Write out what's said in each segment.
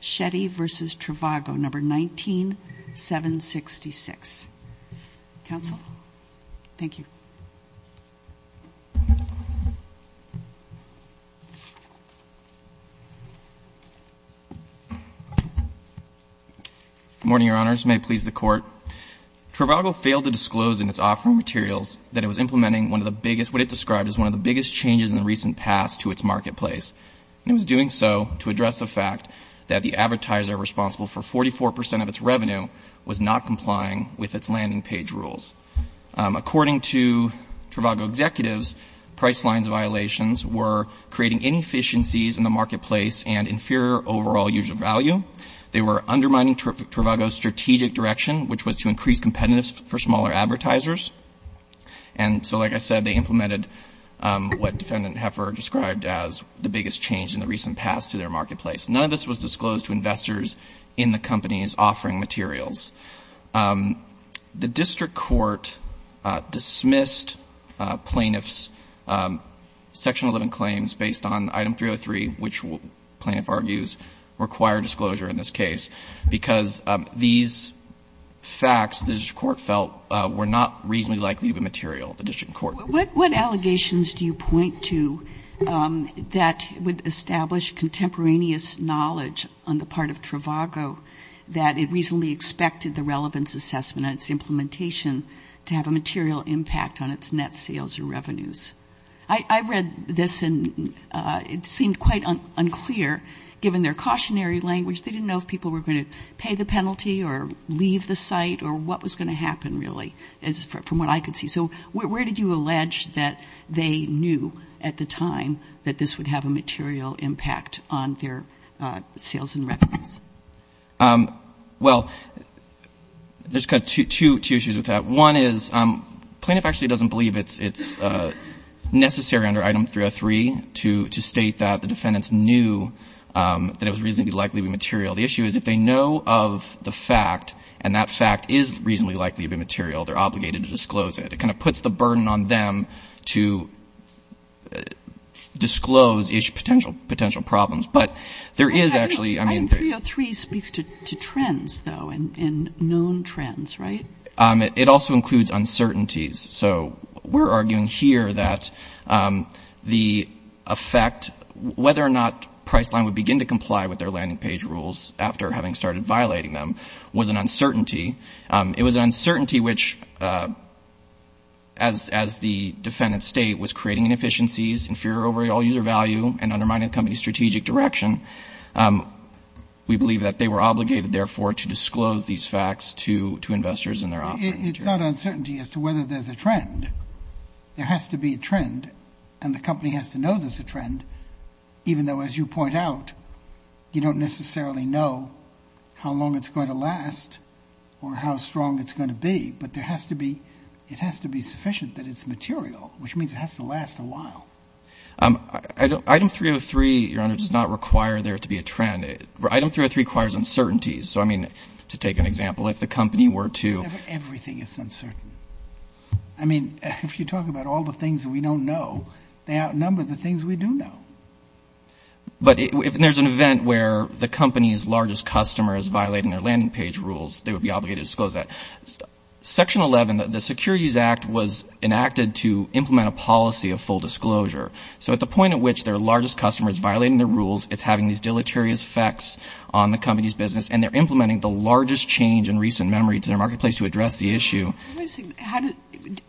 Shetty v. Trivago N.V. 19-766 Trivago failed to disclose in its offering materials that it was implementing what it described as one of the biggest changes in the recent past to its marketplace. And it was doing so to address the fact that the advertiser responsible for 44 percent of its revenue was not complying with its landing page rules. According to Trivago executives, price lines violations were creating inefficiencies in the marketplace and inferior overall user value. They were undermining Trivago's strategic direction, which was to increase competitiveness for smaller advertisers. And so, like I said, they implemented what Defendant Heffer described as the biggest change in the recent past to their marketplace. None of this was disclosed to investors in the company's offering materials. The district court dismissed plaintiff's section 11 claims based on item 303, which plaintiff argues required disclosure in this case, because these facts, the district court felt, were not reasonably likely to be material to the district court. What allegations do you point to that would establish contemporaneous knowledge on the part of Trivago that it reasonably expected the relevance assessment and its implementation to have a material impact on its net sales or revenues? I read this, and it seemed quite unclear, given their cautionary language. They didn't know if people were going to pay the penalty or leave the site or what was going to happen, really, from what I could see. So where did you allege that they knew at the time that this would have a material impact on their sales and revenues? Well, there's kind of two issues with that. One is plaintiff actually doesn't believe it's necessary under item 303 to state that the defendants knew that it was reasonably likely to be material. The issue is if they know of the fact, and that fact is reasonably likely to be material, they're obligated to disclose it. It kind of puts the burden on them to disclose potential problems. But there is actually — Item 303 speaks to trends, though, and known trends, right? It also includes uncertainties. So we're arguing here that the effect, whether or not Priceline would begin to comply with their landing page rules after having started violating them, was an uncertainty. It was an uncertainty which, as the defendant's state was creating inefficiencies, inferior overall user value, and undermining the company's strategic direction. We believe that they were obligated, therefore, to disclose these facts to investors in their offering. But it's not uncertainty as to whether there's a trend. There has to be a trend, and the company has to know there's a trend, even though, as you point out, you don't necessarily know how long it's going to last or how strong it's going to be. But there has to be — it has to be sufficient that it's material, which means it has to last a while. Item 303, Your Honor, does not require there to be a trend. Item 303 requires uncertainties. So, I mean, to take an example, if the company were to — Everything is uncertain. I mean, if you talk about all the things that we don't know, they outnumber the things we do know. But if there's an event where the company's largest customer is violating their landing page rules, they would be obligated to disclose that. Section 11, the Securities Act, was enacted to implement a policy of full disclosure. So at the point at which their largest customer is violating their rules, it's having these deleterious effects on the company's business, and they're implementing the largest change in recent memory to their marketplace to address the issue.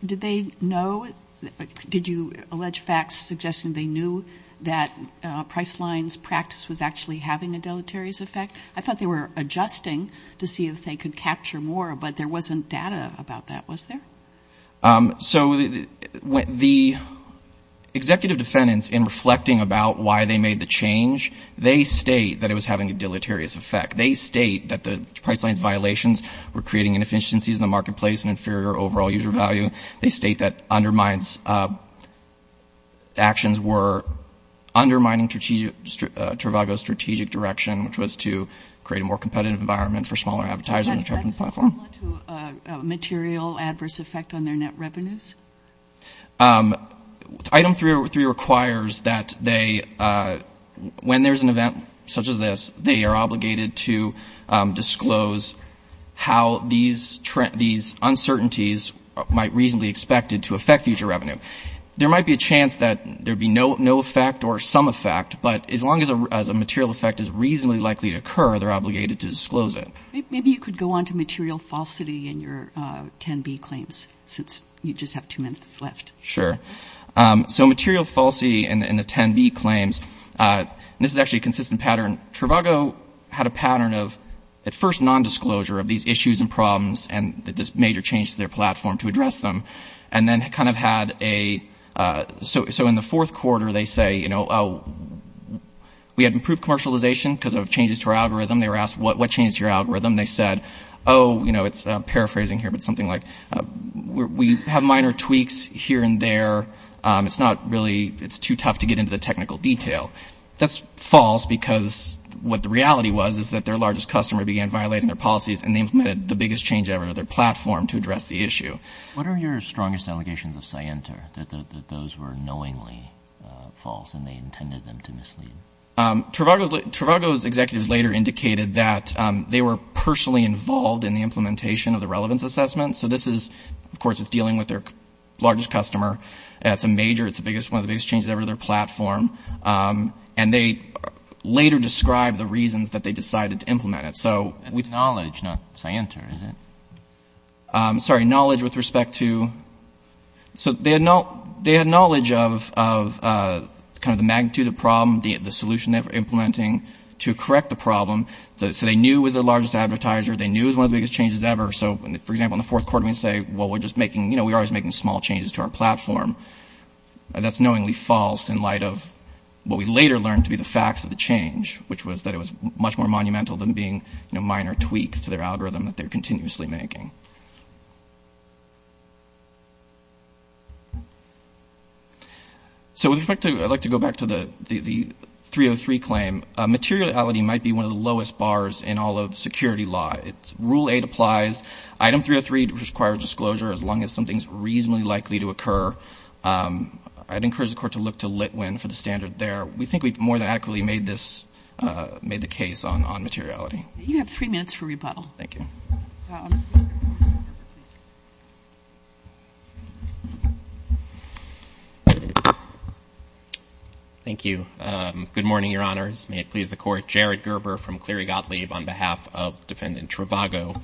Did they know — did you allege facts suggesting they knew that Priceline's practice was actually having a deleterious effect? I thought they were adjusting to see if they could capture more, but there wasn't data about that, was there? So the executive defendants, in reflecting about why they made the change, they state that it was having a deleterious effect. They state that the Priceline's violations were creating inefficiencies in the marketplace and inferior overall user value. They state that undermines — actions were undermining Trivago's strategic direction, which was to create a more competitive environment for smaller advertisers in the platform. Is this similar to a material adverse effect on their net revenues? Item 303 requires that they — when there's an event such as this, they are obligated to disclose how these uncertainties might reasonably be expected to affect future revenue. There might be a chance that there would be no effect or some effect, but as long as a material effect is reasonably likely to occur, they're obligated to disclose it. Maybe you could go on to material falsity in your 10b claims, since you just have two minutes left. Sure. So material falsity in the 10b claims, this is actually a consistent pattern. Trivago had a pattern of, at first, nondisclosure of these issues and problems and this major change to their platform to address them. And then kind of had a — so in the fourth quarter, they say, you know, we had improved commercialization because of changes to our algorithm. They were asked, what changed your algorithm? They said, oh, you know, it's paraphrasing here, but something like, we have minor tweaks here and there. It's not really — it's too tough to get into the technical detail. That's false because what the reality was is that their largest customer began violating their policies and they implemented the biggest change ever to their platform to address the issue. What are your strongest allegations of scienter, that those were knowingly false and they intended them to mislead? Trivago's executives later indicated that they were personally involved in the implementation of the relevance assessment. So this is — of course, it's dealing with their largest customer. It's a major — it's one of the biggest changes ever to their platform. And they later described the reasons that they decided to implement it. So — It's knowledge, not scienter, is it? Sorry, knowledge with respect to — So they had knowledge of kind of the magnitude of the problem, the solution they were implementing to correct the problem. So they knew it was their largest advertiser. They knew it was one of the biggest changes ever. So, for example, in the fourth quarter, we say, well, we're just making — you know, we're always making small changes to our platform. That's knowingly false in light of what we later learned to be the facts of the change, which was that it was much more monumental than being, you know, minor tweaks to their algorithm that they're continuously making. So with respect to — I'd like to go back to the 303 claim. Materiality might be one of the lowest bars in all of security law. Rule 8 applies. Item 303 requires disclosure as long as something's reasonably likely to occur. I'd encourage the Court to look to Litwin for the standard there. We think we've more than adequately made this — made the case on materiality. You have three minutes for rebuttal. Thank you. Thank you. Good morning, Your Honors. May it please the Court. Jared Gerber from Cleary Gottlieb on behalf of Defendant Travago.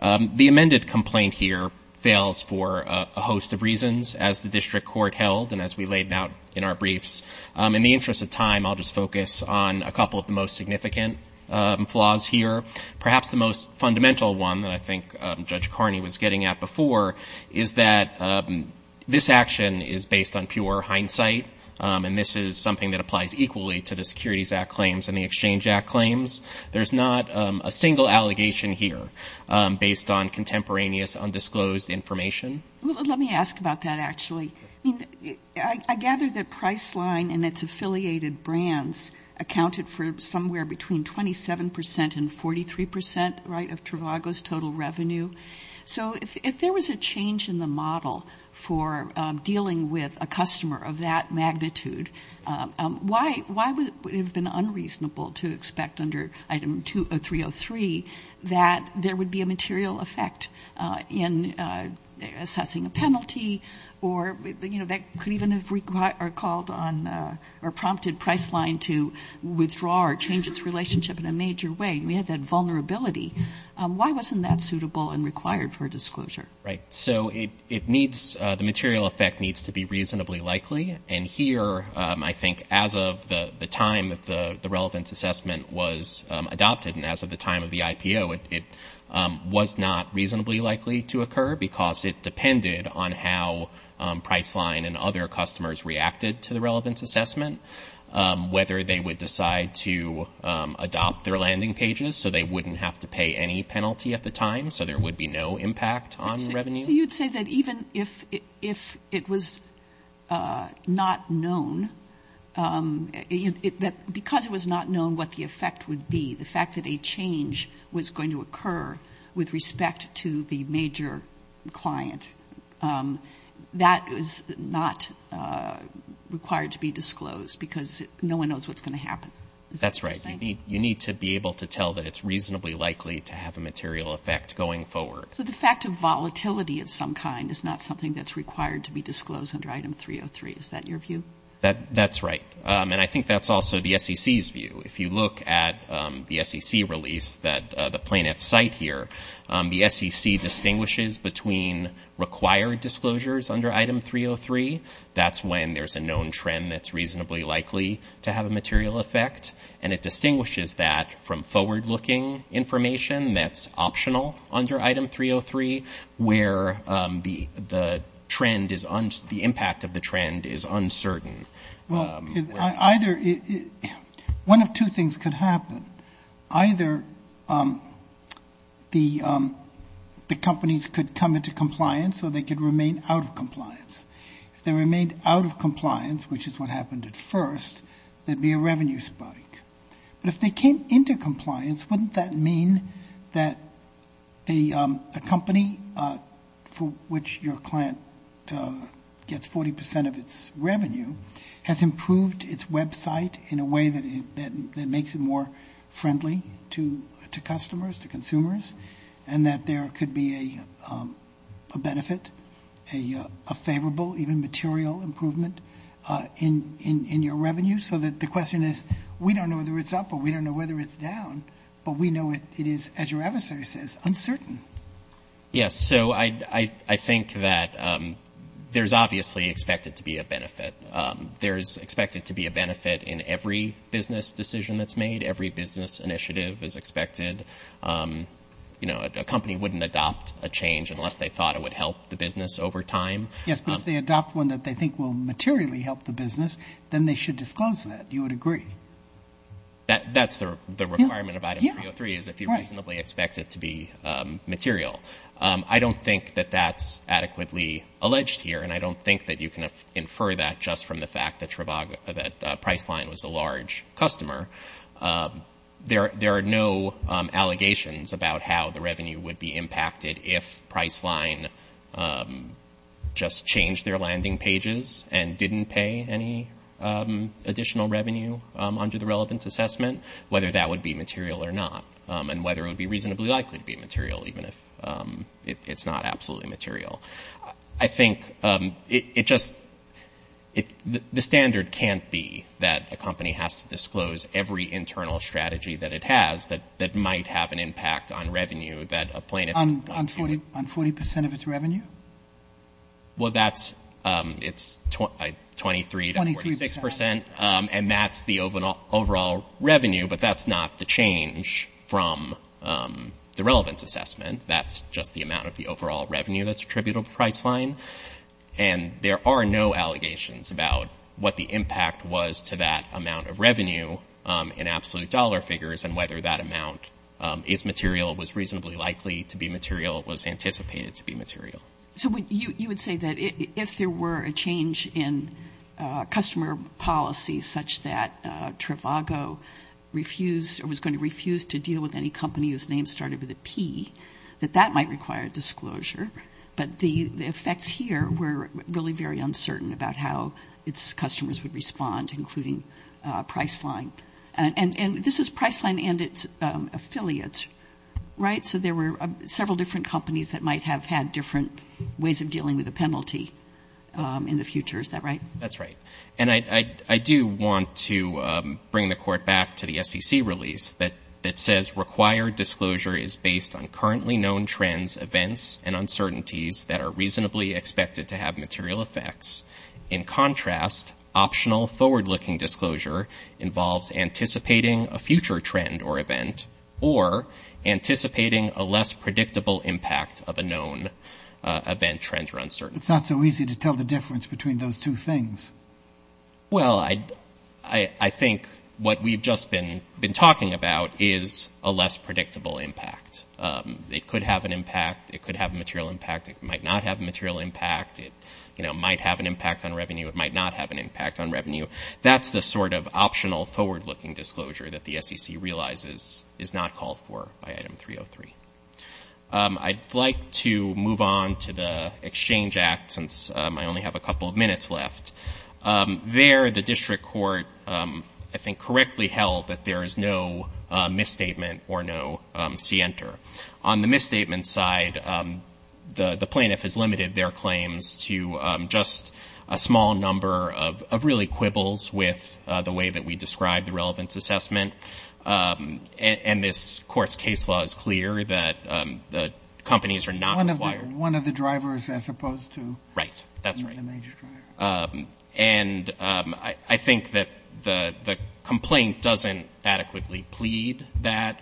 The amended complaint here fails for a host of reasons as the district court held and as we laid out in our briefs. In the interest of time, I'll just focus on a couple of the most significant flaws here. Perhaps the most fundamental one that I think Judge Carney was getting at before is that this action is based on pure hindsight, and this is something that applies equally to the Securities Act claims and the Exchange Act claims. There's not a single allegation here based on contemporaneous undisclosed information. Let me ask about that, actually. I gather that Priceline and its affiliated brands accounted for somewhere between 27 percent and 43 percent of Travago's total revenue. So if there was a change in the model for dealing with a customer of that magnitude, why would it have been unreasonable to expect under Item 303 that there would be a material effect in assessing a penalty or that could even have called on or prompted Priceline to withdraw or change its relationship in a major way? We had that vulnerability. Why wasn't that suitable and required for disclosure? So the material effect needs to be reasonably likely, and here I think as of the time that the relevance assessment was adopted and as of the time of the IPO, it was not reasonably likely to occur because it depended on how Priceline and other customers reacted to the relevance assessment, whether they would decide to adopt their landing pages so they wouldn't have to pay any penalty at the time, so there would be no impact on revenue. So you'd say that even if it was not known, that because it was not known what the effect would be, the fact that a change was going to occur with respect to the major client, that is not required to be disclosed because no one knows what's going to happen. That's right. You need to be able to tell that it's reasonably likely to have a material effect going forward. So the fact of volatility of some kind is not something that's required to be disclosed under Item 303. Is that your view? That's right, and I think that's also the SEC's view. If you look at the SEC release that the plaintiffs cite here, the SEC distinguishes between required disclosures under Item 303. That's when there's a known trend that's reasonably likely to have a material effect, and it distinguishes that from forward-looking information that's optional under Item 303, where the impact of the trend is uncertain. Well, either one of two things could happen. Either the companies could come into compliance or they could remain out of compliance. If they remained out of compliance, which is what happened at first, there'd be a revenue spike. But if they came into compliance, wouldn't that mean that a company for which your client gets 40 percent of its revenue has improved its website in a way that makes it more friendly to customers, to consumers, and that there could be a benefit, a favorable even material improvement in your revenue, so that the question is, we don't know whether it's up or we don't know whether it's down, but we know it is, as your adversary says, uncertain. Yes, so I think that there's obviously expected to be a benefit. There's expected to be a benefit in every business decision that's made. Every business initiative is expected. A company wouldn't adopt a change unless they thought it would help the business over time. Yes, but if they adopt one that they think will materially help the business, then they should disclose that. You would agree. That's the requirement of Item 303, is if you reasonably expect it to be material. I don't think that that's adequately alleged here, and I don't think that you can infer that just from the fact that Priceline was a large customer. There are no allegations about how the revenue would be impacted if Priceline just changed their landing pages and didn't pay any additional revenue under the relevance assessment, whether that would be material or not, and whether it would be reasonably likely to be material, even if it's not absolutely material. I think it just the standard can't be that a company has to disclose every internal strategy that it has that might have an impact on revenue that a plaintiff might feel. On 40 percent of its revenue? Well, that's 23 to 46 percent, and that's the overall revenue, but that's not the change from the relevance assessment. That's just the amount of the overall revenue that's attributable to Priceline, and there are no allegations about what the impact was to that amount of revenue in absolute dollar figures and whether that amount is material, was reasonably likely to be material, was anticipated to be material. So you would say that if there were a change in customer policy such that Trivago refused or was going to refuse to deal with any company whose name started with a P, that that might require disclosure, but the effects here were really very uncertain about how its customers would respond, including Priceline. And this is Priceline and its affiliates, right? So there were several different companies that might have had different ways of dealing with a penalty in the future. Is that right? That's right. And I do want to bring the Court back to the SEC release that says, required disclosure is based on currently known trends, events, and uncertainties that are reasonably expected to have material effects. In contrast, optional forward-looking disclosure involves anticipating a future trend or event or anticipating a less predictable impact of a known event, trend, or uncertainty. It's not so easy to tell the difference between those two things. Well, I think what we've just been talking about is a less predictable impact. It could have an impact. It could have a material impact. It might not have a material impact. It might have an impact on revenue. It might not have an impact on revenue. That's the sort of optional forward-looking disclosure that the SEC realizes is not called for by Item 303. I'd like to move on to the Exchange Act since I only have a couple of minutes left. There, the District Court, I think, correctly held that there is no misstatement or no scienter. On the misstatement side, the plaintiff has limited their claims to just a small number of really quibbles with the way that we describe the relevance assessment. And this Court's case law is clear that the companies are not required. One of the drivers as opposed to the major driver. Right. That's right. And I think that the complaint doesn't adequately plead that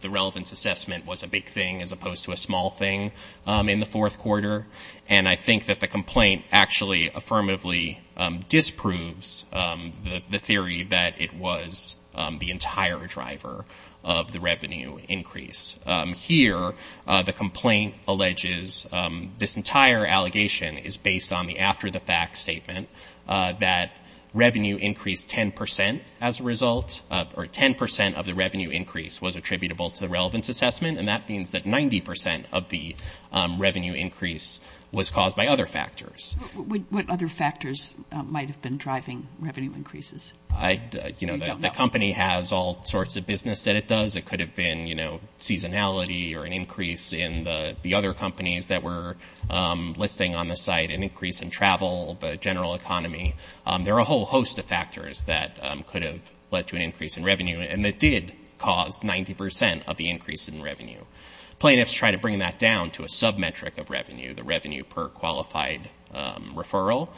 the relevance assessment was a big thing as opposed to a small thing in the fourth quarter. And I think that the complaint actually affirmatively disproves the theory that it was the entire driver of the revenue increase. Here, the complaint alleges this entire allegation is based on the after-the-fact statement that revenue increased 10 percent as a result, or 10 percent of the revenue increase was attributable to the relevance assessment. And that means that 90 percent of the revenue increase was caused by other factors. What other factors might have been driving revenue increases? You know, the company has all sorts of business that it does. It could have been, you know, seasonality or an increase in the other companies that were listing on the site, an increase in travel, the general economy. There are a whole host of factors that could have led to an increase in revenue and that did cause 90 percent of the increase in revenue. Plaintiffs try to bring that down to a sub-metric of revenue, the revenue per qualified referral,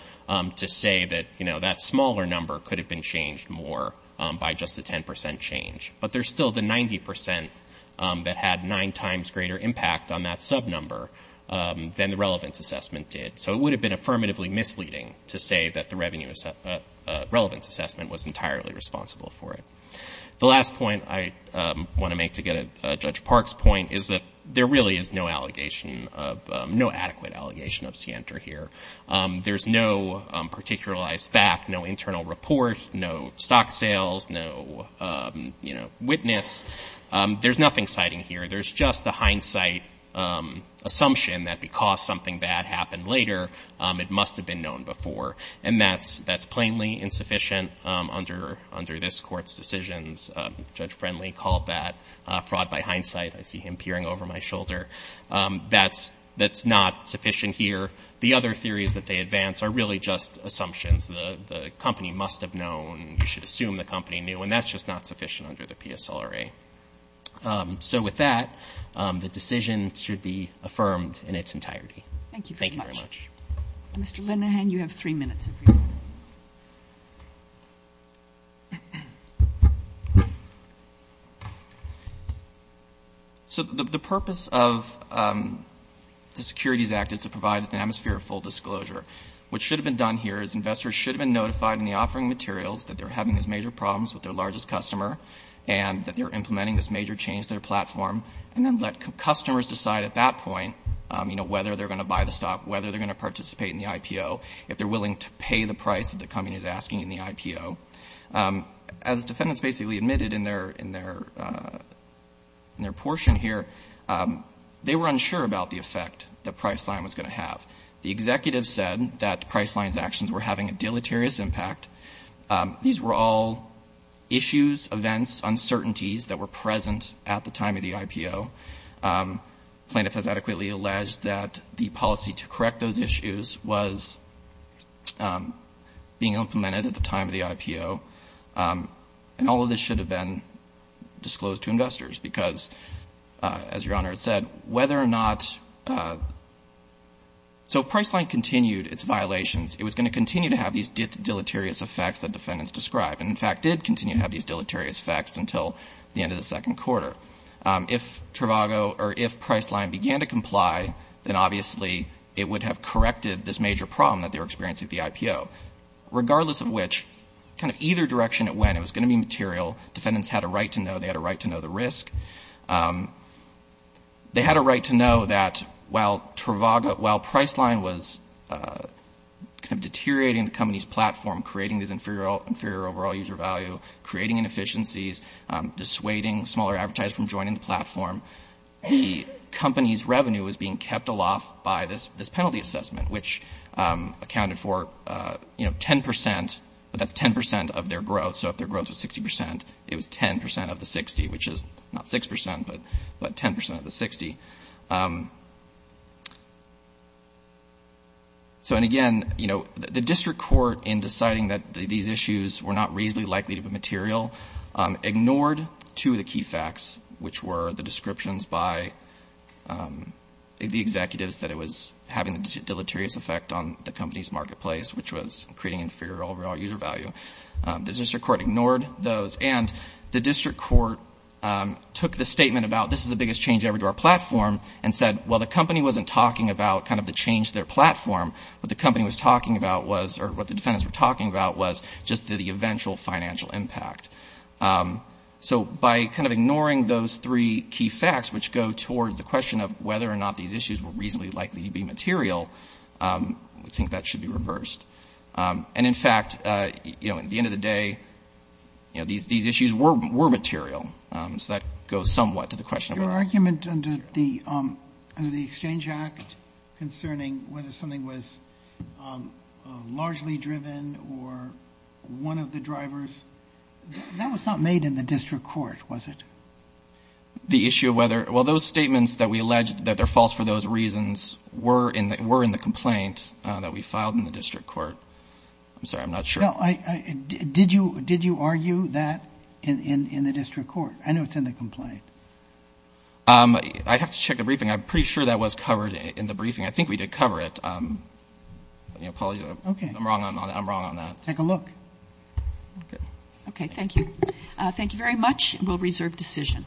to say that, you know, that smaller number could have been changed more by just the 10 percent change. But there's still the 90 percent that had nine times greater impact on that sub-number than the relevance assessment did. So it would have been affirmatively misleading to say that the relevance assessment was entirely responsible for it. The last point I want to make to get at Judge Park's point is that there really is no allegation of, no adequate allegation of scienter here. There's no particularized fact, no internal report, no stock sales, no, you know, witness. There's nothing citing here. There's just the hindsight assumption that because something bad happened later, it must have been known before. And that's plainly insufficient under this Court's decisions. Judge Friendly called that fraud by hindsight. I see him peering over my shoulder. That's not sufficient here. The other theories that they advance are really just assumptions. The company must have known. You should assume the company knew. And that's just not sufficient under the PSLRA. So with that, the decision should be affirmed in its entirety. Thank you very much. Thank you very much. Mr. Lenderhan, you have three minutes. So the purpose of the Securities Act is to provide an atmosphere of full disclosure. What should have been done here is investors should have been notified in the offering materials that they're having these major problems with their largest customer and that they're implementing this major change to their platform, and then let customers decide at that point, you know, whether they're going to buy the stock, whether they're going to participate in the IPO, if they're willing to pay the price that the company is asking in the IPO. As defendants basically admitted in their portion here, they were unsure about the effect that Priceline was going to have. The executive said that Priceline's actions were having a deleterious impact. These were all issues, events, uncertainties that were present at the time of the IPO. Plaintiff has adequately alleged that the policy to correct those issues was being implemented at the time of the IPO, and all of this should have been disclosed to investors because, as Your Honor said, whether or not — so if Priceline continued its violations, it was going to continue to have these deleterious effects that defendants described, and in fact did continue to have these deleterious effects until the end of the second quarter. If Trivago or if Priceline began to comply, then obviously it would have corrected this major problem that they were experiencing at the IPO. Regardless of which, kind of either direction it went, it was going to be material. Defendants had a right to know. They had a right to know the risk. They had a right to know that while Priceline was kind of deteriorating the company's platform, creating these inferior overall user value, creating inefficiencies, dissuading smaller advertisers from joining the platform, the company's revenue was being kept aloft by this penalty assessment, which accounted for 10 percent, but that's 10 percent of their growth. So if their growth was 60 percent, it was 10 percent of the 60, which is not 6 percent, but 10 percent of the 60. So, and again, you know, the district court in deciding that these issues were not reasonably likely to be material ignored two of the key facts, which were the descriptions by the executives that it was having a deleterious effect on the company's marketplace, which was creating inferior overall user value. The district court ignored those, and the district court took the statement about this is the biggest change ever to our platform, and said, well, the company wasn't talking about kind of the change to their platform. What the company was talking about was, or what the defendants were talking about, was just the eventual financial impact. So by kind of ignoring those three key facts, which go toward the question of whether or not these issues were reasonably likely to be material, we think that should be reversed. And, in fact, you know, at the end of the day, you know, these issues were material. So that goes somewhat to the question. Your argument under the Exchange Act concerning whether something was largely driven or one of the drivers, that was not made in the district court, was it? The issue of whether, well, those statements that we alleged that they're false for those reasons were in the complaint that we filed in the district court. I'm sorry, I'm not sure. Did you argue that in the district court? I know it's in the complaint. I'd have to check the briefing. I'm pretty sure that was covered in the briefing. I think we did cover it. I'm wrong on that. Take a look. Okay, thank you. Thank you very much. We'll reserve decision.